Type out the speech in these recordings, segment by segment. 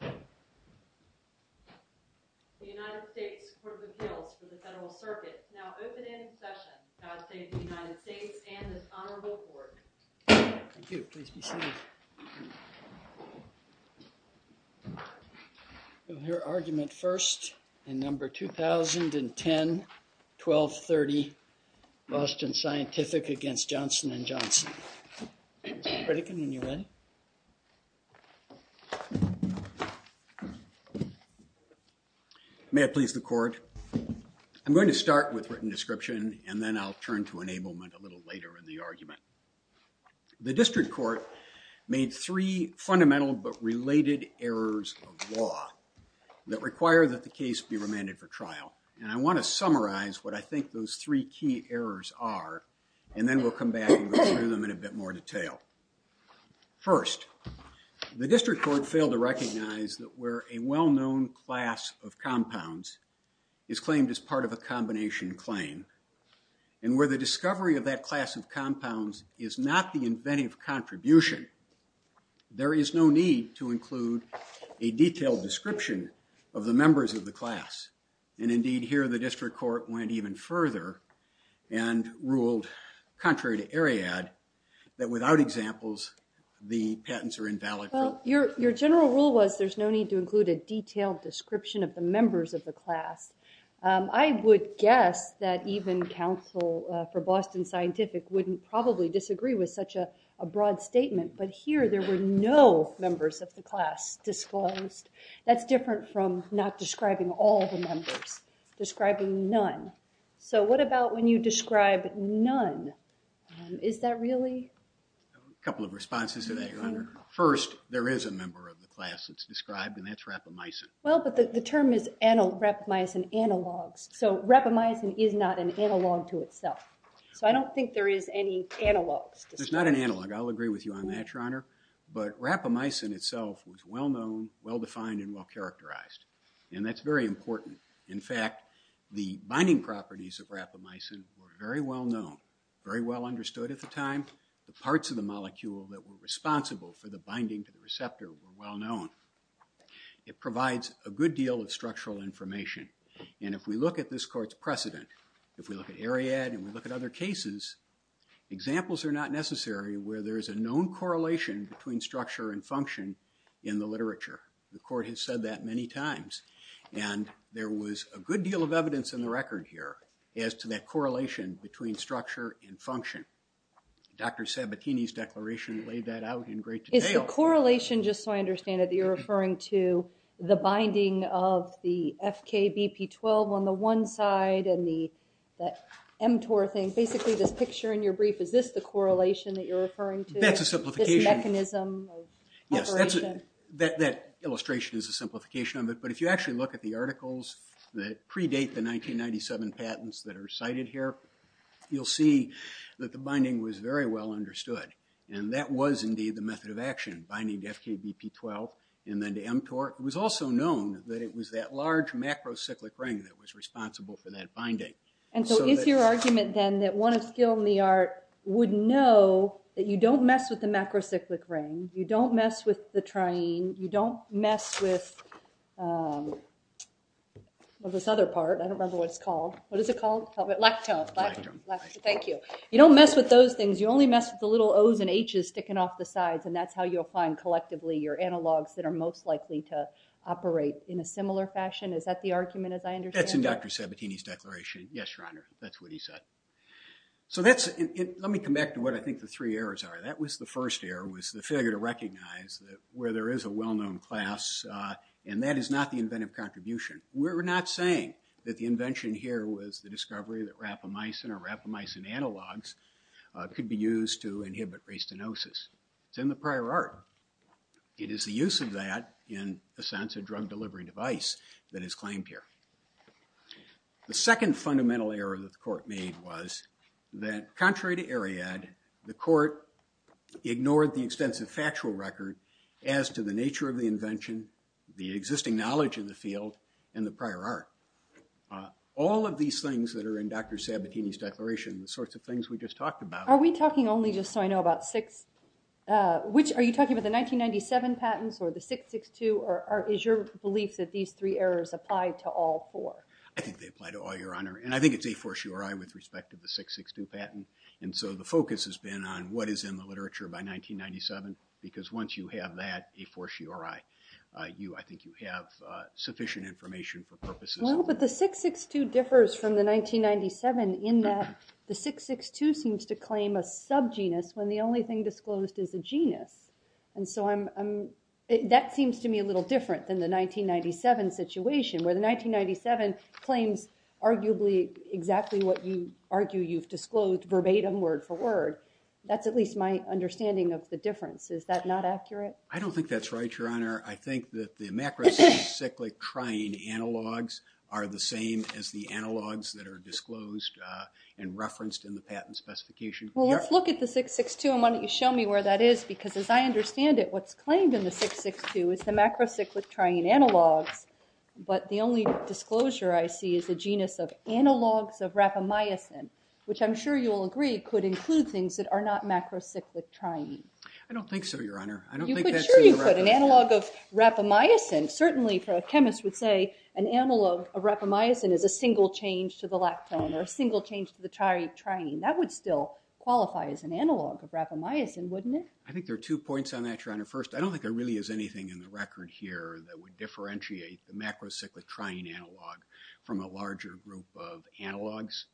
The United States Court of Appeals for the Federal Circuit now open in session. God save the United States and this honorable court. Thank you. Please be seated. We'll hear argument first in number 2010-1230, Boston Scientific v. Johnson & Johnson. Mr. Pritikin, when you're ready. May it please the court. I'm going to start with written description and then I'll turn to enablement a little later in the argument. The district court made three fundamental but related errors of law that require that the case be remanded for trial. And I want to summarize what I think those three key errors are. And then we'll come back to them in a bit more detail. First, the district court failed to recognize that where a well-known class of compounds is claimed as part of a combination claim. And where the discovery of that class of compounds is not the inventive contribution, there is no need to include a detailed description of the members of the class. And indeed here the district court went even further and ruled, contrary to Ariadne, that without examples the patents are invalid. Your general rule was there's no need to include a detailed description of the members of the class. I would guess that even counsel for Boston Scientific wouldn't probably disagree with such a broad statement. But here there were no members of the class disclosed. That's different from not describing all the members, describing none. So what about when you describe none? Is that really? A couple of responses to that, your honor. First, there is a member of the class that's described and that's rapamycin. Well, but the term is rapamycin analogs. So rapamycin is not an analog to itself. So I don't think there is any analogs. There's not an analog. I'll agree with you on that, your honor. But rapamycin itself was well known, well defined, and well characterized. And that's very important. In fact, the binding properties of rapamycin were very well known, very well understood at the time. The parts of the molecule that were responsible for the binding to the receptor were well known. It provides a good deal of structural information. And if we look at this court's precedent, if we look at Ariadne and we look at other cases, examples are not necessary where there is a known correlation between structure and function in the literature. The court has said that many times. And there was a good deal of evidence in the record here as to that correlation between structure and function. Dr. Sabatini's declaration laid that out in great detail. The correlation, just so I understand it, you're referring to the binding of the FKBP12 on the one side and the mTOR thing. Basically, this picture in your brief, is this the correlation that you're referring to? That's a simplification. This mechanism of operation? Yes, that illustration is a simplification of it. But if you actually look at the articles that predate the 1997 patents that are cited here, you'll see that the binding was very well understood. And that was indeed the method of action, binding to FKBP12 and then to mTOR. It was also known that it was that large macrocyclic ring that was responsible for that binding. And so is your argument then that one of skill in the art would know that you don't mess with the macrocyclic ring, you don't mess with the triene, you don't mess with this other part. I don't remember what it's called. What is it called? Lactone. Thank you. You don't mess with those things. You only mess with the little O's and H's sticking off the sides. And that's how you'll find, collectively, your analogs that are most likely to operate in a similar fashion. Is that the argument, as I understand it? That's in Dr. Sabatini's declaration. Yes, Your Honor, that's what he said. So let me come back to what I think the three errors are. That was the first error, was the failure to recognize that where there is a well-known class, and that is not the inventive contribution. We're not saying that the invention here was the discovery that rapamycin or rapamycin analogs could be used to inhibit restenosis. It's in the prior art. It is the use of that, in a sense, a drug delivery device that is claimed here. The second fundamental error that the court made was that, contrary to Ariad, the court ignored the extensive factual record as to the nature of the invention, the existing knowledge in the field, and the prior art. All of these things that are in Dr. Sabatini's declaration, the sorts of things we just talked about— Are we talking only, just so I know, about six? Are you talking about the 1997 patents or the 662? Or is your belief that these three errors apply to all four? I think they apply to all, Your Honor. And I think it's a fortiori with respect to the 662 patent. And so the focus has been on what is in the literature by 1997, because once you have that, a fortiori, I think you have sufficient information for purposes. Well, but the 662 differs from the 1997 in that the 662 seems to claim a subgenus when the only thing disclosed is a genus. And so that seems to me a little different than the 1997 situation, where the 1997 claims arguably exactly what you argue you've disclosed verbatim, word for word. That's at least my understanding of the difference. Is that not accurate? I don't think that's right, Your Honor. I think that the macrocyclic triene analogs are the same as the analogs that are disclosed and referenced in the patent specification. Well, let's look at the 662, and why don't you show me where that is? Because as I understand it, what's claimed in the 662 is the macrocyclic triene analogs, but the only disclosure I see is a genus of analogs of rapamycin, which I'm sure you'll agree could include things that are not macrocyclic triene. I don't think so, Your Honor. Sure you could. An analog of rapamycin. Certainly, a chemist would say an analog of rapamycin is a single change to the lactone or a single change to the triene. That would still qualify as an analog of rapamycin, wouldn't it? I think there are two points on that, Your Honor. First, I don't think there really is anything in the record here that would differentiate the macrocyclic triene analog from a larger group of analogs.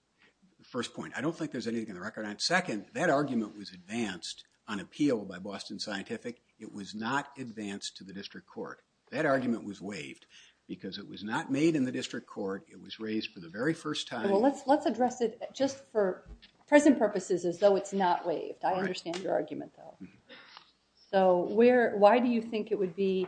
First point, I don't think there's anything in the record on it. Second, that argument was advanced on appeal by Boston Scientific. It was not advanced to the district court. That argument was waived because it was not made in the district court. It was raised for the very first time. Well, let's address it just for present purposes as though it's not waived. I understand your argument, though. So why do you think it would be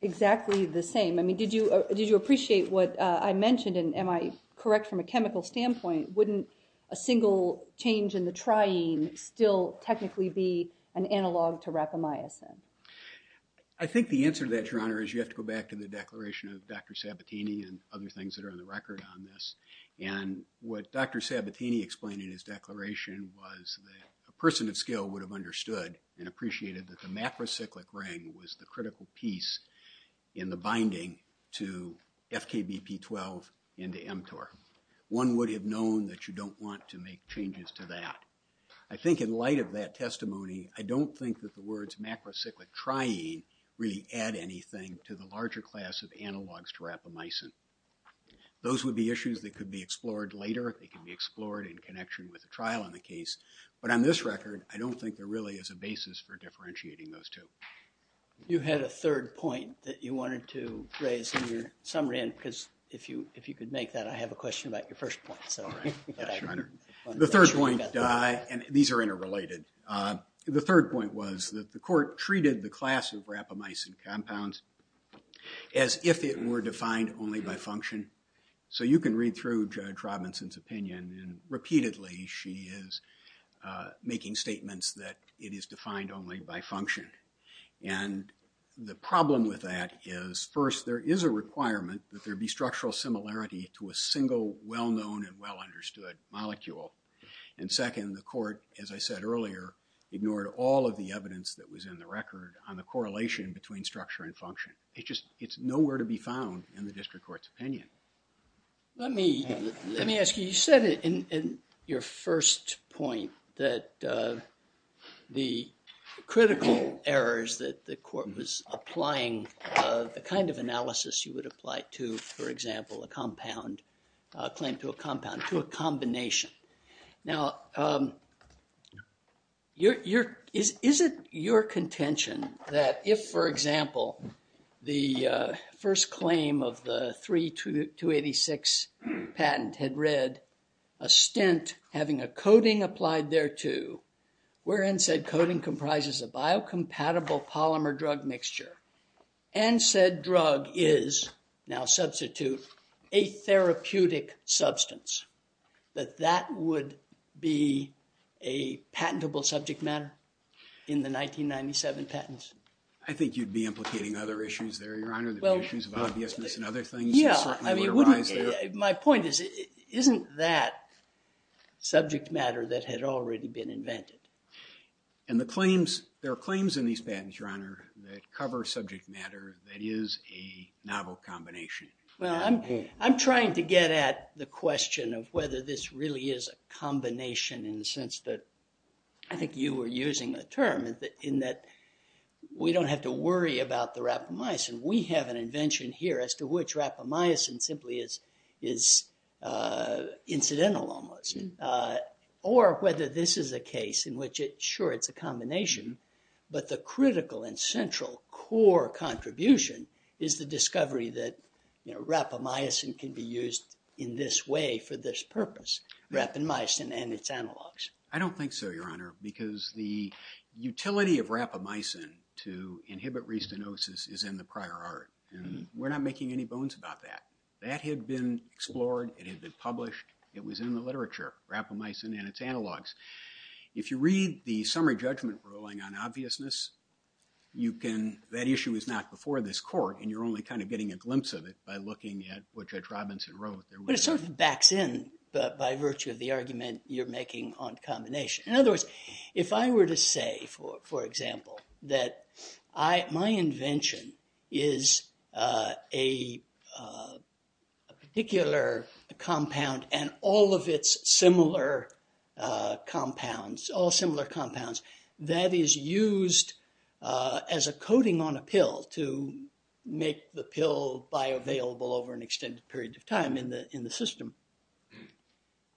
exactly the same? I mean, did you appreciate what I mentioned? And am I correct from a chemical standpoint? Wouldn't a single change in the triene still technically be an analog to rapamycin? I think the answer to that, Your Honor, is you have to go back to the declaration of Dr. Sabatini and other things that are on the record on this. And what Dr. Sabatini explained in his declaration was that a person of skill would have understood and appreciated that the macrocyclic ring was the critical piece in the binding to FKBP12 and to mTOR. One would have known that you don't want to make changes to that. I think in light of that testimony, I don't think that the words macrocyclic triene really add anything to the larger class of analogs to rapamycin. Those would be issues that could be explored later. They could be explored in connection with the trial in the case. But on this record, I don't think there really is a basis for differentiating those two. You had a third point that you wanted to raise in your summary. And if you could make that, I have a question about your first point. The third point, and these are interrelated. The third point was that the court treated the class of rapamycin compounds as if it were defined only by function. So you can read through Judge Robinson's opinion, and repeatedly she is making statements that it is defined only by function. And the problem with that is, first, there is a requirement that there be structural similarity to a single well-known and well-understood molecule. And second, the court, as I said earlier, ignored all of the evidence that was in the record on the correlation between structure and function. It's just nowhere to be found in the district court's opinion. Let me ask you, you said in your first point that the critical errors that the court was applying, the kind of analysis you would apply to, for example, a compound, a claim to a compound, to a combination. Now, is it your contention that if, for example, the first claim of the 3286 patent had read a stent having a coating applied thereto, wherein said coating comprises a biocompatible polymer drug mixture, and said drug is, now substitute, a therapeutic substance, that that would be a patentable subject matter in the 1997 patents? I think you'd be implicating other issues there, Your Honor, the issues of obviousness and other things that certainly would arise there. My point is, isn't that subject matter that had already been invented? And the claims, there are claims in these patents, Your Honor, that cover subject matter that is a novel combination. Well, I'm trying to get at the question of whether this really is a combination in the sense that I think you were using the term, in that we don't have to worry about the rapamycin. We have an invention here as to which rapamycin simply is incidental almost. Or whether this is a case in which it, sure, it's a combination, but the critical and central core contribution is the discovery that, you know, rapamycin can be used in this way for this purpose, rapamycin and its analogs. I don't think so, Your Honor, because the utility of rapamycin to inhibit restenosis is in the prior art, and we're not making any bones about that. That had been explored, it had been published, it was in the literature, rapamycin and its analogs. If you read the summary judgment ruling on obviousness, you can, that issue is not before this court, and you're only kind of getting a glimpse of it by looking at what Judge Robinson wrote. But it sort of backs in by virtue of the argument you're making on combination. In other words, if I were to say, for example, that my invention is a particular compound and all of its similar compounds, all similar compounds, that is used as a coating on a pill to make the pill bioavailable over an extended period of time in the system,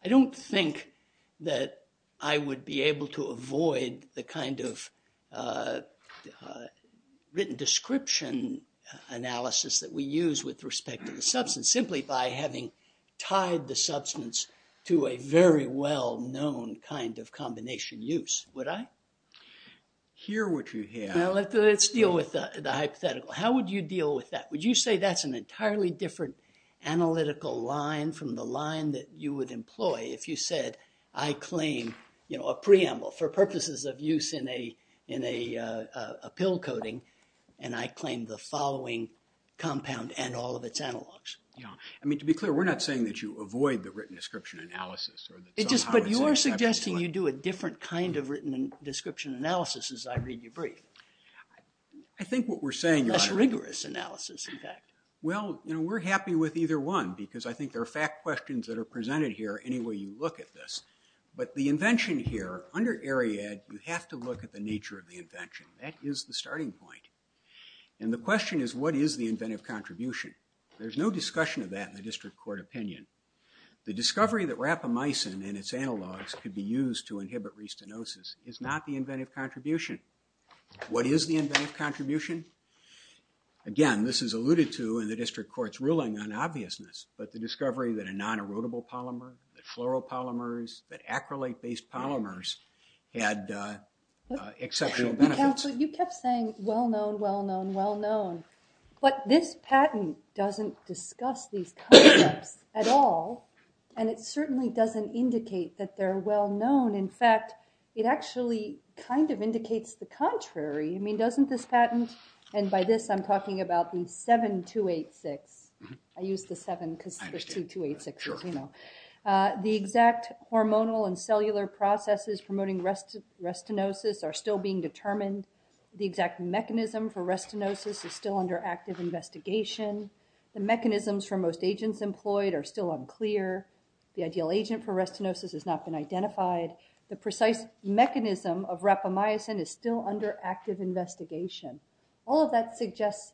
I don't think that I would be able to avoid the kind of written description analysis that we use with respect to the substance, simply by having tied the substance to a very well-known kind of combination use. Would I? Hear what you hear. Well, let's deal with the hypothetical. How would you deal with that? Would you say that's an entirely different analytical line from the line that you would employ if you said, I claim a preamble for purposes of use in a pill coating, and I claim the following compound and all of its analogs? I mean, to be clear, we're not saying that you avoid the written description analysis. But you are suggesting you do a different kind of written description analysis as I read your brief. I think what we're saying… Less rigorous analysis, in fact. Well, we're happy with either one, because I think there are fact questions that are there any way you look at this. But the invention here, under Ariadne, you have to look at the nature of the invention. That is the starting point. And the question is, what is the inventive contribution? There's no discussion of that in the district court opinion. The discovery that rapamycin and its analogs could be used to inhibit restenosis is not the inventive contribution. What is the inventive contribution? Again, this is alluded to in the district court's ruling on obviousness. But the discovery that a non-erodible polymer, the chloropolymers, the acrylate-based polymers had exceptional benefits. You kept saying, well-known, well-known, well-known. But this patent doesn't discuss these concepts at all. And it certainly doesn't indicate that they're well-known. In fact, it actually kind of indicates the contrary. I mean, doesn't this patent… And by this, I'm talking about the 7286. I used the 7 because there's two 286s. The exact hormonal and cellular processes promoting restenosis are still being determined. The exact mechanism for restenosis is still under active investigation. The mechanisms for most agents employed are still unclear. The ideal agent for restenosis has not been identified. The precise mechanism of rapamycin is still under active investigation. All of that suggests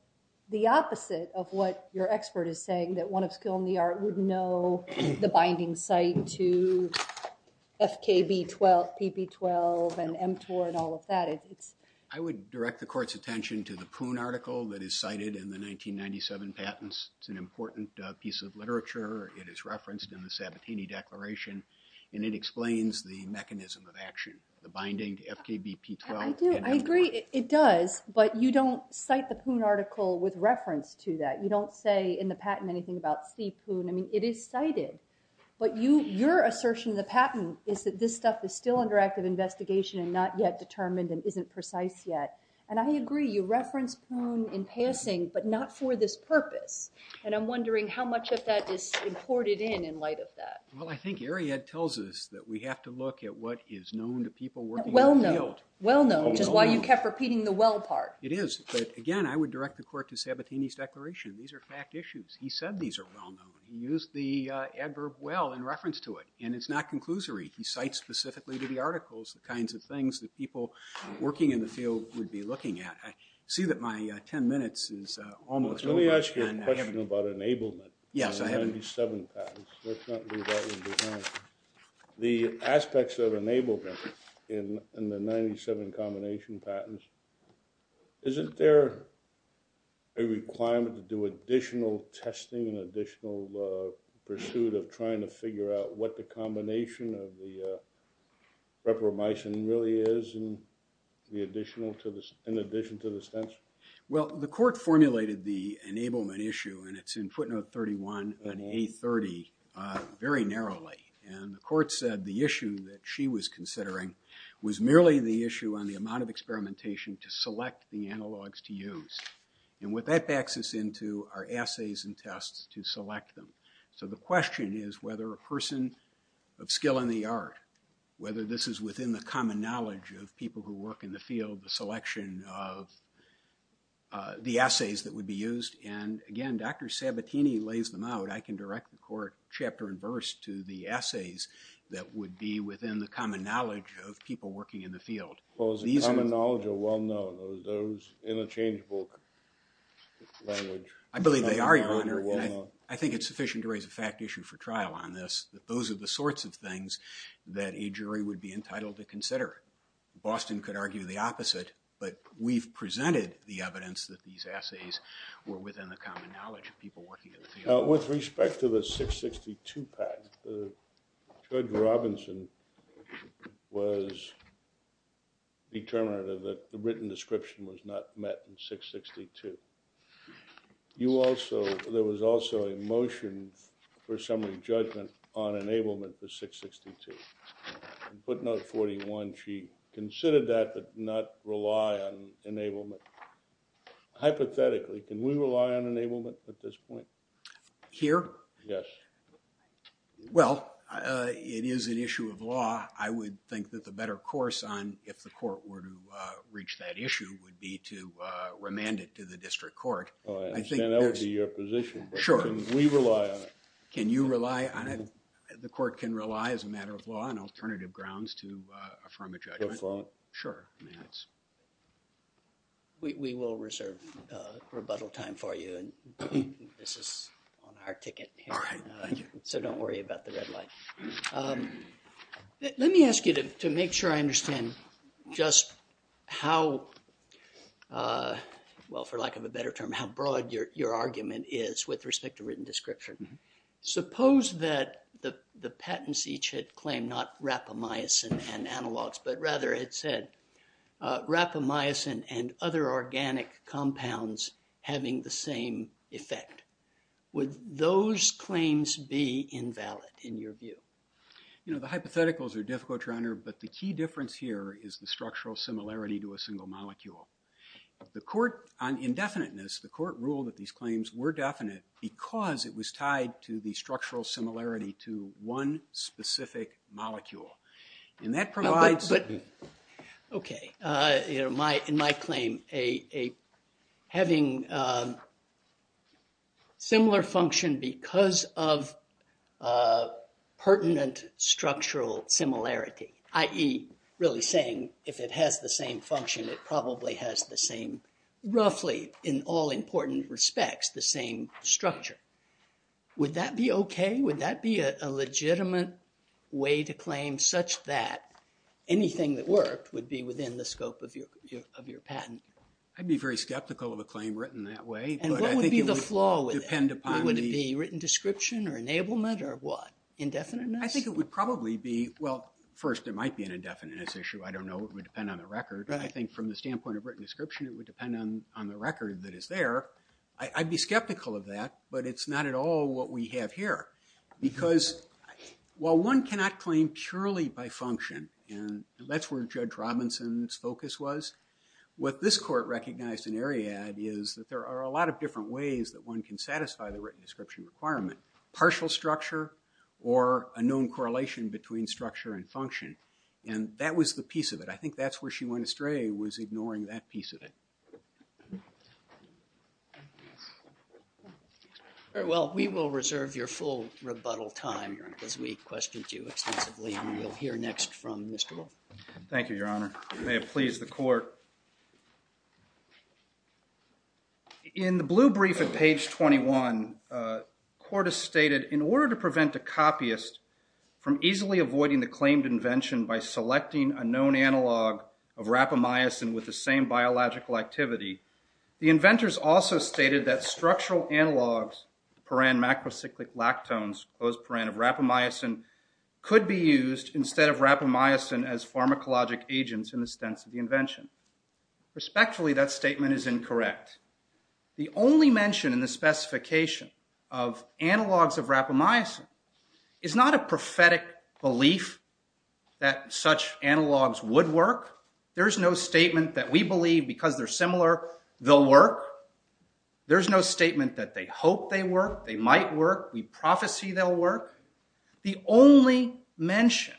the opposite of what your expert is saying, that one of skill in the art would know the binding site to FKB-12, PP-12, and mTOR and all of that. I would direct the court's attention to the Poon article that is cited in the 1997 patents. It's an important piece of literature. It is referenced in the Sabatini Declaration. And it explains the mechanism of action, the binding to FKB-P12 and mTOR. I do. I agree. It does. But you don't cite the Poon article with reference to that. You don't say in the patent anything about C. Poon. I mean, it is cited. But your assertion in the patent is that this stuff is still under active investigation and not yet determined and isn't precise yet. And I agree. You reference Poon in passing, but not for this purpose. And I'm wondering how much of that is imported in in light of that. Well, I think Ariad tells us that we have to look at what is known to people working in the field. Well-known, which is why you kept repeating the well part. It is. But, again, I would direct the court to Sabatini's declaration. These are fact issues. He said these are well-known. He used the adverb well in reference to it. And it's not conclusory. He cites specifically to the articles the kinds of things that people working in the field would be looking at. I see that my 10 minutes is almost over. Let me ask you a question about enablement. Yes. Let's not leave that one behind. The aspects of enablement in the 97 combination patents, isn't there a requirement to do additional testing, an additional pursuit of trying to figure out what the combination of the reprobation really is, in addition to the stents? Well, the court formulated the enablement issue, and it's in footnote 31 in A30, very narrowly. And the court said the issue that she was considering was merely the issue on the amount of experimentation to select the analogs to use. And what that backs us into are assays and tests to select them. So the question is whether a person of skill in the art, whether this is within the common knowledge of people who work in the field, the selection of the assays that would be used. And again, Dr. Sabatini lays them out. I can direct the court chapter and verse to the assays that would be within the common knowledge of people working in the field. Those common knowledge are well known. Those interchangeable language. I believe they are, Your Honor. I think it's sufficient to raise a fact issue for trial on this, that those are the sorts of things that a jury would be entitled to consider. Boston could argue the opposite, but we've presented the evidence that these assays were within the common knowledge of people working in the field. With respect to the 662 patent, Judge Robinson was determinative that the written description was not met in 662. There was also a motion for assembly judgment on enablement for 662. In footnote 41, she considered that but not rely on enablement. Hypothetically, can we rely on enablement at this point? Here? Yes. Well, it is an issue of law. I would think that the better course on if the court were to reach that issue would be to remand it to the district court. I understand that would be your position. Can we rely on it? Can you rely on it? The court can rely as a matter of law on alternative grounds to affirm a judgment. Your thought? Sure. We will reserve rebuttal time for you. This is on our ticket. All right. So don't worry about the red light. Let me ask you to make sure I understand just how, well, for lack of a better term, how broad your argument is with respect to written description. Suppose that the patents each had claimed not rapamycin and analogs, but rather it said rapamycin and other organic compounds having the same effect. Would those claims be invalid in your view? You know, the hypotheticals are difficult, Your Honor, but the key difference here is the structural similarity to a single molecule. On indefiniteness, the court ruled that these claims were definite because it was tied to the structural similarity to one specific molecule. And that provides- Okay. In my claim, having similar function because of pertinent structural similarity, i.e., really saying if it has the same function, it probably has the same, roughly, in all important respects, the same structure. Would that be okay? Would that be a legitimate way to claim such that anything that worked would be within the scope of your patent? I'd be very skeptical of a claim written that way. And what would be the flaw with it? Would it be written description or enablement or what? Indefiniteness? I think it would probably be- Well, first, it might be an indefiniteness issue. I don't know. It would depend on the record. I think from the standpoint of written description, it would depend on the record that is there. I'd be skeptical of that, but it's not at all what we have here because while one cannot claim purely by function, and that's where Judge Robinson's focus was, what this court recognized in Ariad is that there are a lot of different ways that one can satisfy the written description requirement, partial structure or a known correlation between structure and function. And that was the piece of it. I think that's where she went astray was ignoring that piece of it. Very well. We will reserve your full rebuttal time, Your Honor, because we questioned you extensively. And we'll hear next from Mr. Wolf. Thank you, Your Honor. May it please the court. In the blue brief at page 21, the court has stated in order to prevent a copyist from easily avoiding the claimed invention by selecting a known analog of rapamycin with the same biological activity, the inventors also stated that structural analogs, the parent macrocyclic lactones, closed parent of rapamycin, could be used instead of rapamycin as pharmacologic agents in the stents of the invention. Respectfully, that statement is incorrect. The only mention in the specification of analogs of rapamycin is not a prophetic belief that such analogs would work. There is no statement that we believe because they're similar, they'll work. There's no statement that they hope they work, they might work, we prophecy they'll work. The only mention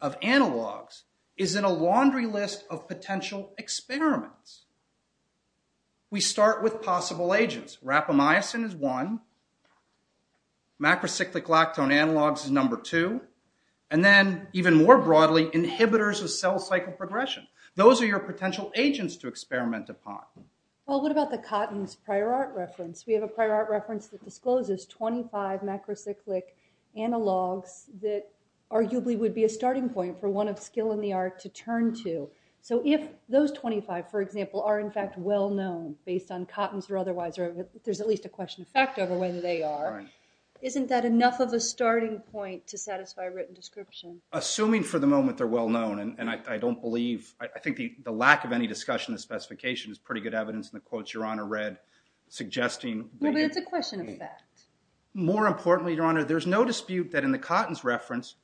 of analogs is in a laundry list of potential experiments. We start with possible agents. Rapamycin is one. Macrocyclic lactone analogs is number two. And then even more broadly, inhibitors of cell cycle progression. Those are your potential agents to experiment upon. Well, what about the cottons prior art reference? We have a prior art reference that discloses 25 macrocyclic analogs that arguably would be a starting point for one of skill in the art to turn to. So if those 25, for example, are in fact well known based on cottons or otherwise, there's at least a question of fact over whether they are. Isn't that enough of a starting point to satisfy a written description? Assuming for the moment they're well known, and I don't believe, I think the lack of any discussion in the specification is pretty good evidence in the quotes Your Honor read suggesting. Well, but it's a question of fact. More importantly, Your Honor, there's no dispute that in the cottons reference,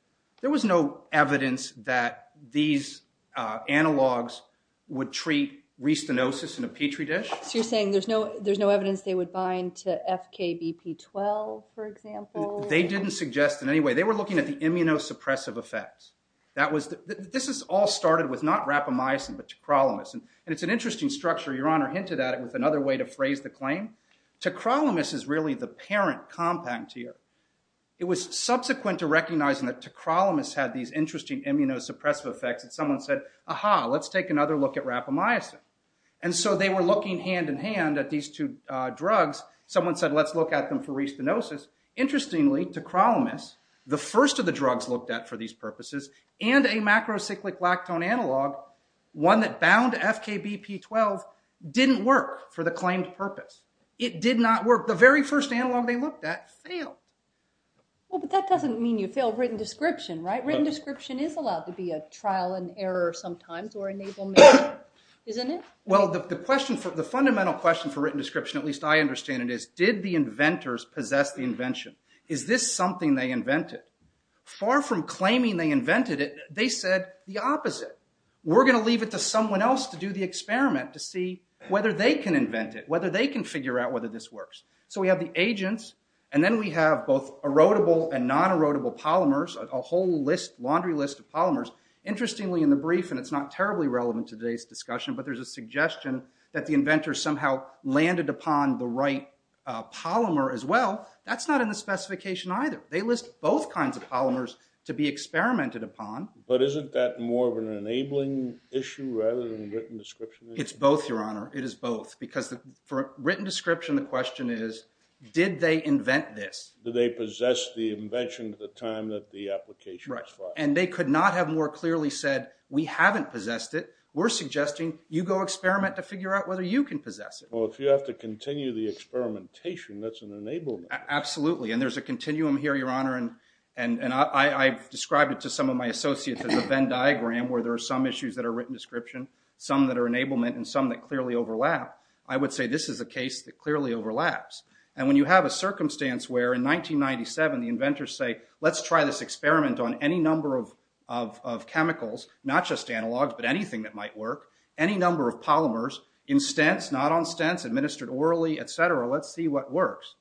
there was no evidence that these analogs would treat restenosis in a Petri dish. So you're saying there's no evidence they would bind to FKBP12, for example? They didn't suggest in any way. They were looking at the immunosuppressive effects. This all started with not rapamycin, but tacrolimus. And it's an interesting structure. Your Honor hinted at it with another way to phrase the claim. Tacrolimus is really the parent compact here. It was subsequent to recognizing that tacrolimus had these interesting immunosuppressive effects. And someone said, aha, let's take another look at rapamycin. And so they were looking hand-in-hand at these two drugs. Someone said, let's look at them for restenosis. Interestingly, tacrolimus, the first of the drugs looked at for these purposes, and a macrocyclic lactone analog, one that bound FKBP12, didn't work for the claimed purpose. It did not work. The very first analog they looked at failed. Well, but that doesn't mean you failed written description, right? Written description is allowed to be a trial and error sometimes or enablement. Isn't it? Well, the fundamental question for written description, at least I understand it is, did the inventors possess the invention? Is this something they invented? Far from claiming they invented it, they said the opposite. We're going to leave it to someone else to do the experiment to see whether they can invent it, whether they can figure out whether this works. So we have the agents, and then we have both erodible and non-erodible polymers, a whole laundry list of polymers. Interestingly, in the brief, and it's not terribly relevant to today's discussion, but there's a suggestion that the inventors somehow landed upon the right polymer as well. That's not in the specification either. They list both kinds of polymers to be experimented upon. But isn't that more of an enabling issue rather than written description? It's both, Your Honor. It is both, because for written description, the question is, did they invent this? Did they possess the invention at the time that the application was filed? And they could not have more clearly said, we haven't possessed it. We're suggesting you go experiment to figure out whether you can possess it. Well, if you have to continue the experimentation, that's an enablement. Absolutely, and there's a continuum here, Your Honor, and I've described it to some of my associates as a Venn diagram where there are some issues that are written description, some that are enablement, and some that clearly overlap. I would say this is a case that clearly overlaps. And when you have a circumstance where in 1997 the inventors say, let's try this experiment on any number of chemicals, not just analogs, but anything that might work, any number of polymers in stents, not on stents, administered orally, et cetera, let's see what works.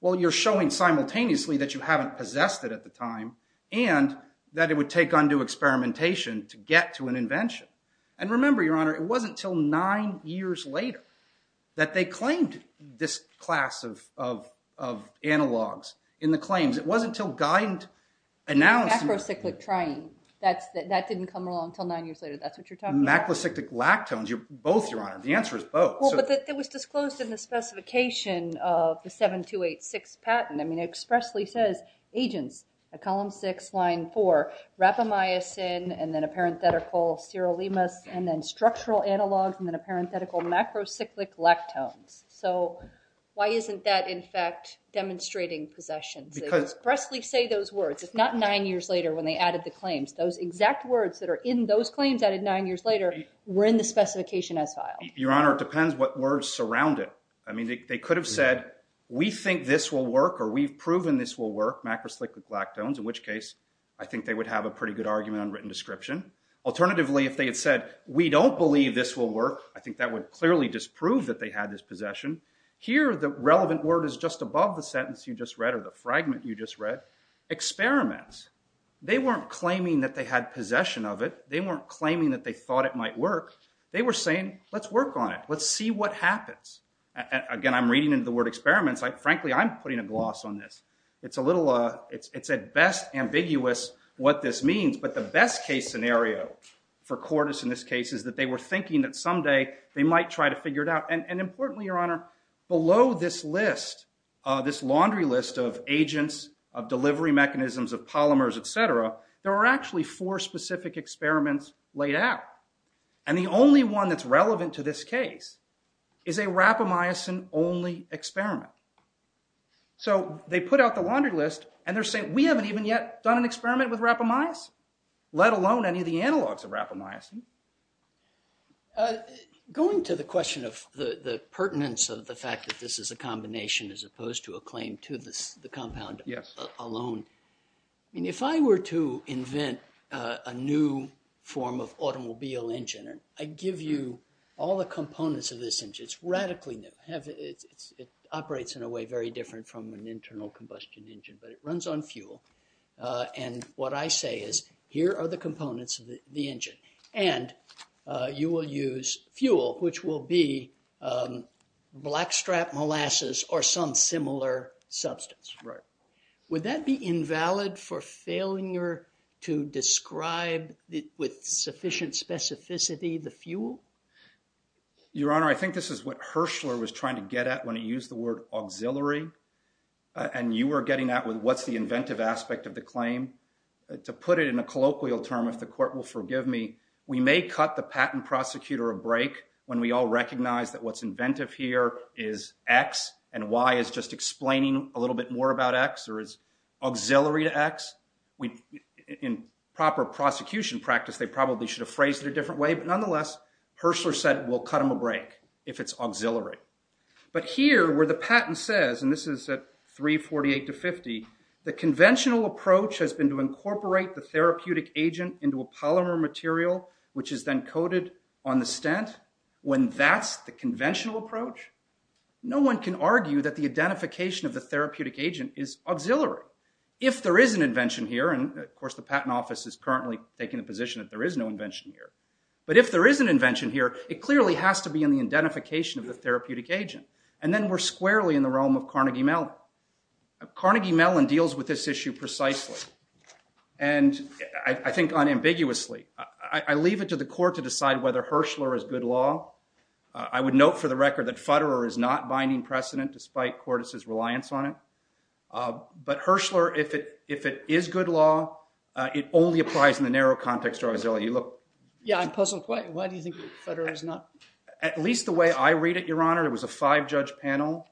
Well, you're showing simultaneously that you haven't possessed it at the time and that it would take undue experimentation to get to an invention. And remember, Your Honor, it wasn't until nine years later that they claimed this class of analogs in the claims. It wasn't until Geind announced it. Macrocyclic triene. That didn't come along until nine years later. That's what you're talking about. Macrocyclic lactones. Both, Your Honor. The answer is both. Well, but it was disclosed in the specification of the 7286 patent. I mean, it expressly says, agents, column 6, line 4, rapamycin, and then a parenthetical, sirolimus, and then structural analogs, and then a parenthetical, macrocyclic lactones. So why isn't that, in fact, demonstrating possession? It expressly say those words. It's not nine years later when they added the claims. Those exact words that are in those claims added nine years later were in the specification as filed. Your Honor, it depends what words surround it. I mean, they could have said, we think this will work or we've proven this will work, macrocyclic lactones, in which case I think they would have a pretty good argument on written description. Alternatively, if they had said, we don't believe this will work, I think that would clearly disprove that they had this possession. Here, the relevant word is just above the sentence you just read or the fragment you just read, experiments. They weren't claiming that they had possession of it. They weren't claiming that they thought it might work. They were saying, let's work on it. Let's see what happens. Again, I'm reading into the word experiments. Frankly, I'm putting a gloss on this. It's a little, it's at best ambiguous what this means, but the best case scenario for Cordis in this case is that they were thinking that someday they might try to figure it out. And importantly, Your Honor, below this list, this laundry list of agents, of delivery mechanisms, of polymers, et cetera, there were actually four specific experiments laid out. And the only one that's relevant to this case is a rapamycin-only experiment. So they put out the laundry list and they're saying, we haven't even yet done an experiment with rapamycin, let alone any of the analogs of rapamycin. Going to the question of the pertinence of the fact that this is a combination as opposed to a claim to the compound alone, if I were to invent a new form of automobile engine, I give you all the components of this engine. It's radically new. It operates in a way very different from an internal combustion engine, but it runs on fuel. And what I say is, here are the components of the engine. And you will use fuel, which will be blackstrap molasses or some similar substance. Would that be invalid for failure to describe with sufficient specificity the fuel? Your Honor, I think this is what Herschler was trying to get at when he used the word auxiliary. And you were getting at with what's the inventive aspect of the claim. To put it in a colloquial term, if the court will forgive me, we may cut the patent prosecutor a break when we all recognize that what's inventive here is X and Y is just explaining a little bit more about X or is auxiliary to X. In proper prosecution practice, they probably should have phrased it a different way. But nonetheless, Herschler said, we'll cut him a break if it's auxiliary. But here, where the patent says, and this is at 348 to 50, the conventional approach has been to incorporate the therapeutic agent into a polymer material, which is then coated on the stent. When that's the conventional approach, no one can argue that the identification of the therapeutic agent is auxiliary. If there is an invention here, and of course the Patent Office is currently taking the position that there is no invention here. But if there is an invention here, it clearly has to be in the identification of the therapeutic agent. And then we're squarely in the realm of Carnegie Mellon. Carnegie Mellon deals with this issue precisely. And I think unambiguously. I leave it to the court to decide whether Herschler is good law. I would note for the record that Futterer is not binding precedent despite Cordes' reliance on it. But Herschler, if it is good law, it only applies in the narrow context or auxiliary. Look. Yeah, I'm puzzled. Why do you think Futterer is not? At least the way I read it, Your Honor, it was a five-judge panel.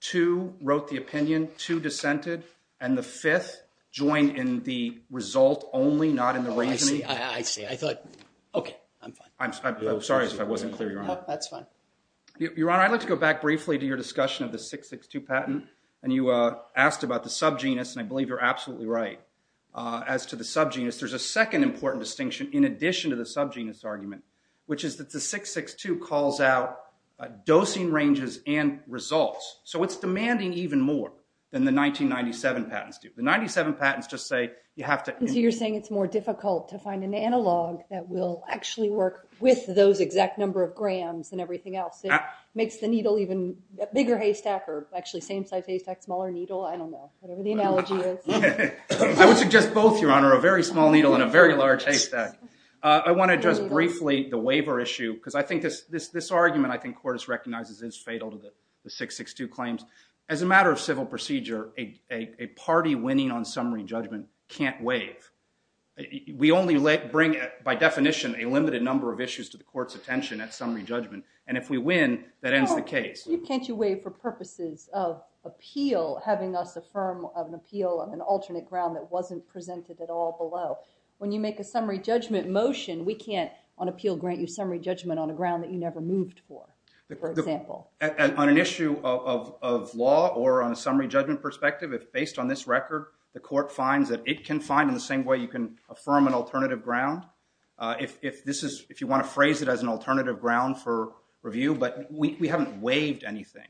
Two wrote the opinion. Two dissented. And the fifth joined in the result only, not in the reasoning. Oh, I see. I see. I thought. Okay, I'm fine. I'm sorry if I wasn't clear, Your Honor. That's fine. Your Honor, I'd like to go back briefly to your discussion of the 662 patent. And you asked about the subgenus, and I believe you're absolutely right. As to the subgenus, there's a second important distinction in addition to the subgenus argument, which is that the 662 calls out dosing ranges and results. So it's demanding even more than the 1997 patents do. The 1997 patents just say you have to. So you're saying it's more difficult to find an analog that will actually work with those exact number of grams and everything else. It makes the needle even a bigger haystack or actually same-sized haystack, smaller needle. I don't know. Whatever the analogy is. I would suggest both, Your Honor, a very small needle and a very large haystack. I want to address briefly the waiver issue because I think this is fatal to the 662 claims. As a matter of civil procedure, a party winning on summary judgment can't waive. We only bring, by definition, a limited number of issues to the court's attention at summary judgment. And if we win, that ends the case. Can't you waive for purposes of appeal, having us affirm an appeal on an alternate ground that wasn't presented at all below? When you make a summary judgment motion, we can't, on appeal, grant you summary judgment on a ground that you never moved for, for example. On an issue of law or on a summary judgment perspective, based on this record, the court finds that it can find in the same way you can affirm an alternative ground. If you want to phrase it as an alternative ground for review, but we haven't waived anything.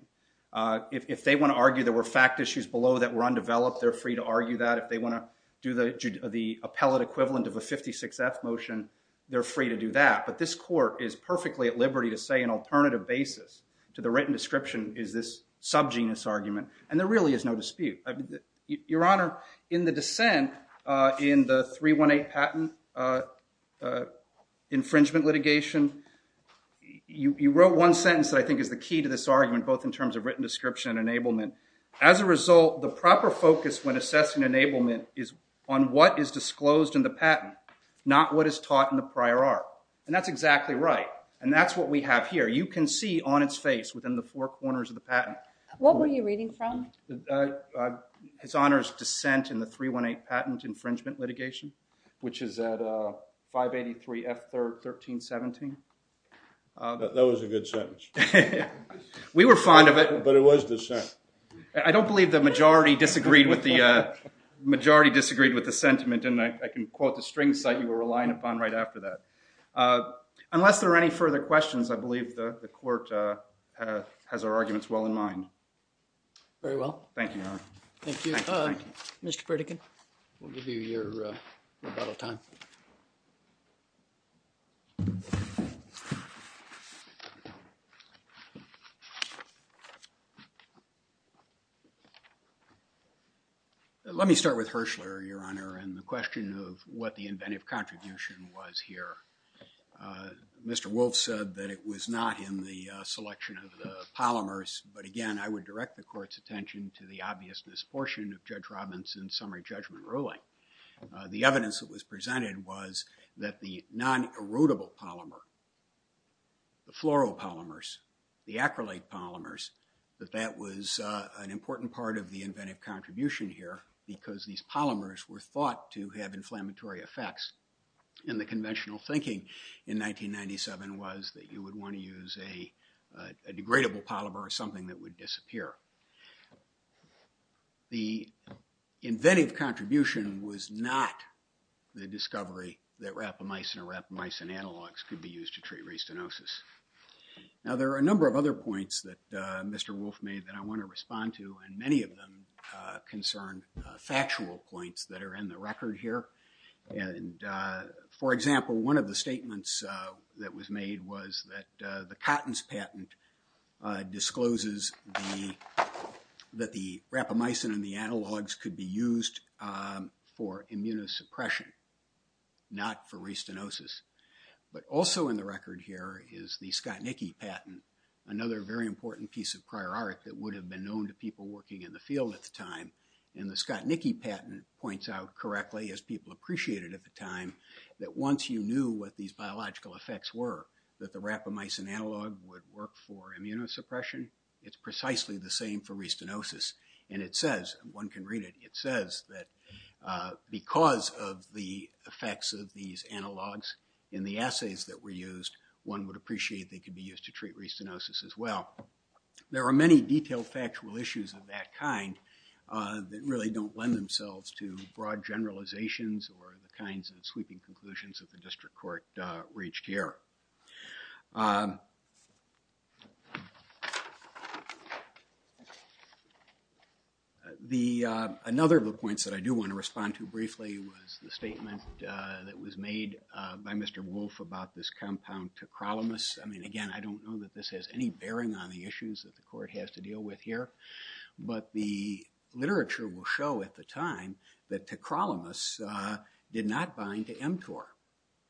If they want to argue there were fact issues below that were undeveloped, they're free to argue that. If they want to do the appellate equivalent of a 56th motion, they're free to do that. But this court is perfectly at liberty to say an alternative basis to the written description is this subgenus argument. And there really is no dispute. Your Honor, in the dissent in the 318 patent infringement litigation, you wrote one sentence that I think is the key to this argument, both in terms of written description and enablement. As a result, the proper focus when assessing enablement is on what is disclosed in the patent, not what is taught in the prior art. And that's exactly right. And that's what we have here. You can see on its face within the four corners of the patent. What were you reading from? His Honor's dissent in the 318 patent infringement litigation, which is at 583 F1317. That was a good sentence. We were fond of it. But it was dissent. I don't believe the majority disagreed with the sentiment, and I can quote the string site you were relying upon right after that. Unless there are any further questions, I believe the court has our arguments well in mind. Very well. Thank you, Your Honor. Thank you. Mr. Pritikin, we'll give you your rebuttal time. Let me start with Herschler, Your Honor, and the question of what the inventive contribution was here. Mr. Wolf said that it was not in the selection of the polymers. But again, I would direct the court's attention to the obviousness portion of Judge Robinson's summary judgment ruling. The evidence that was presented was that the non-erodible polymer, the floral polymers, the acrylate polymers, that that was an important part of the inventive contribution here because these polymers were thought to have inflammatory effects. And the conventional thinking in 1997 was that you would want to use a degradable polymer or something that would disappear. The inventive contribution was not the discovery that rapamycin or rapamycin analogs could be used to treat restenosis. Now, there are a number of other points that Mr. Wolf made that I want to respond to, and many of them concern factual points that are in the record here. And, for example, one of the statements that was made was that the Cotton's patent discloses that the rapamycin and the analogs could be used for immunosuppression, not for restenosis. But also in the record here is the Skotnicki patent, another very important piece of prior art that would have been known to people working in the field at the time. And the Skotnicki patent points out correctly, as people appreciated at the time, that once you knew what these biological effects were, that the rapamycin analog would work for immunosuppression, it's precisely the same for restenosis. And it says, one can read it, it says that because of the effects of these analogs in the assays that were used, one would appreciate they could be used to treat restenosis as well. There are many detailed factual issues of that kind that really don't lend themselves to broad generalizations or the kinds of sweeping conclusions that the district court reached here. Another of the points that I do want to respond to briefly was the statement that was made by Mr. Wolfe about this compound, tacrolimus. I mean, again, I don't know that this has any bearing on the issues that the court has to deal with here. But the literature will show at the time that tacrolimus did not bind to mTOR.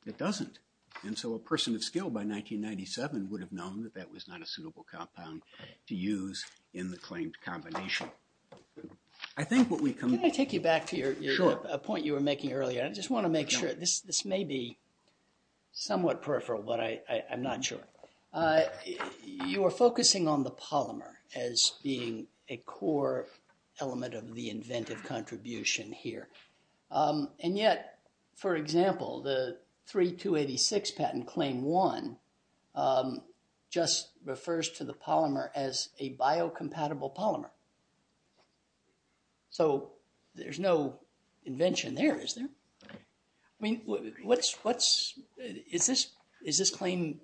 It doesn't. And so a person of skill by 1997 would have known that that was not a suitable compound to use in the claimed combination. Can I take you back to a point you were making earlier? I just want to make sure. This may be somewhat peripheral, but I'm not sure. You were focusing on the polymer as being a core element of the inventive contribution here. And yet, for example, the 3286 patent claim one just refers to the polymer as a biocompatible polymer. So there's no invention there, is there? I mean, what's... Is this claim,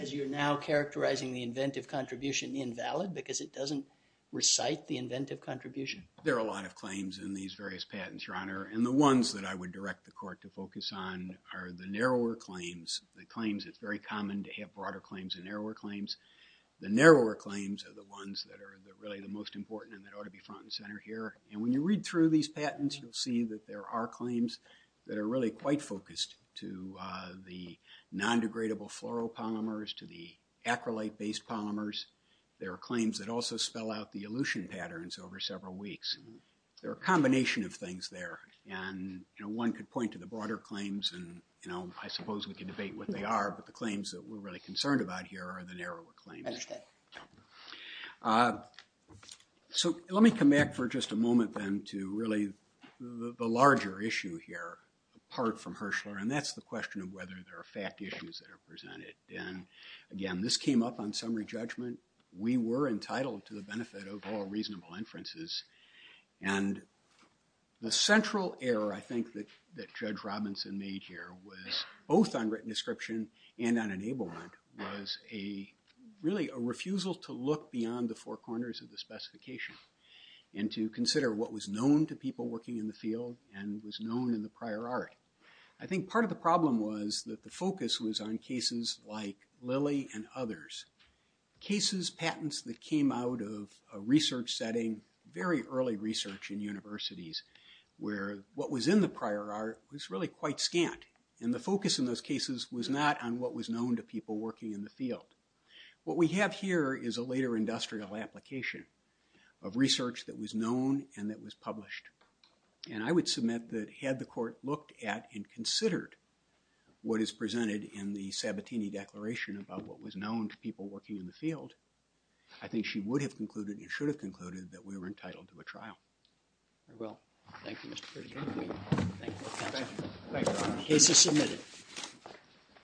as you're now characterizing the inventive contribution, invalid because it doesn't recite the inventive contribution? There are a lot of claims in these various patents, Your Honor. And the ones that I would direct the court to focus on are the narrower claims, the claims... It's very common to have broader claims and narrower claims. The narrower claims are the ones that are really the most important and that ought to be front and center here. And when you read through these patents, you'll see that there are claims that are really quite focused to the non-degradable fluoropolymers, to the acrylate-based polymers. There are claims that also spell out the elution patterns over several weeks. There are a combination of things there. And, you know, one could point to the broader claims, and, you know, I suppose we could debate what they are, but the claims that we're really concerned about here are the narrower claims. Understood. So let me come back for just a moment, then, to really the larger issue here, apart from Herschler, and that's the question of whether there are fact issues that are presented. And, again, this came up on summary judgment. We were entitled to the benefit of all reasonable inferences. And the central error, I think, that Judge Robinson made here both on written description and on enablement was really a refusal to look beyond the four corners of the specification and to consider what was known to people working in the field and was known in the prior art. I think part of the problem was that the focus was on cases like Lilly and others, cases, patents that came out of a research setting, very early research in universities, where what was in the prior art was really quite scant, and the focus in those cases was not on what was known to people working in the field. What we have here is a later industrial application of research that was known and that was published. And I would submit that had the court looked at and considered what is presented in the Sabatini Declaration about what was known to people working in the field, that we were entitled to a trial. I will. Thank you, Mr. Chairman. Thank you. Thank you, Your Honor. Case is submitted.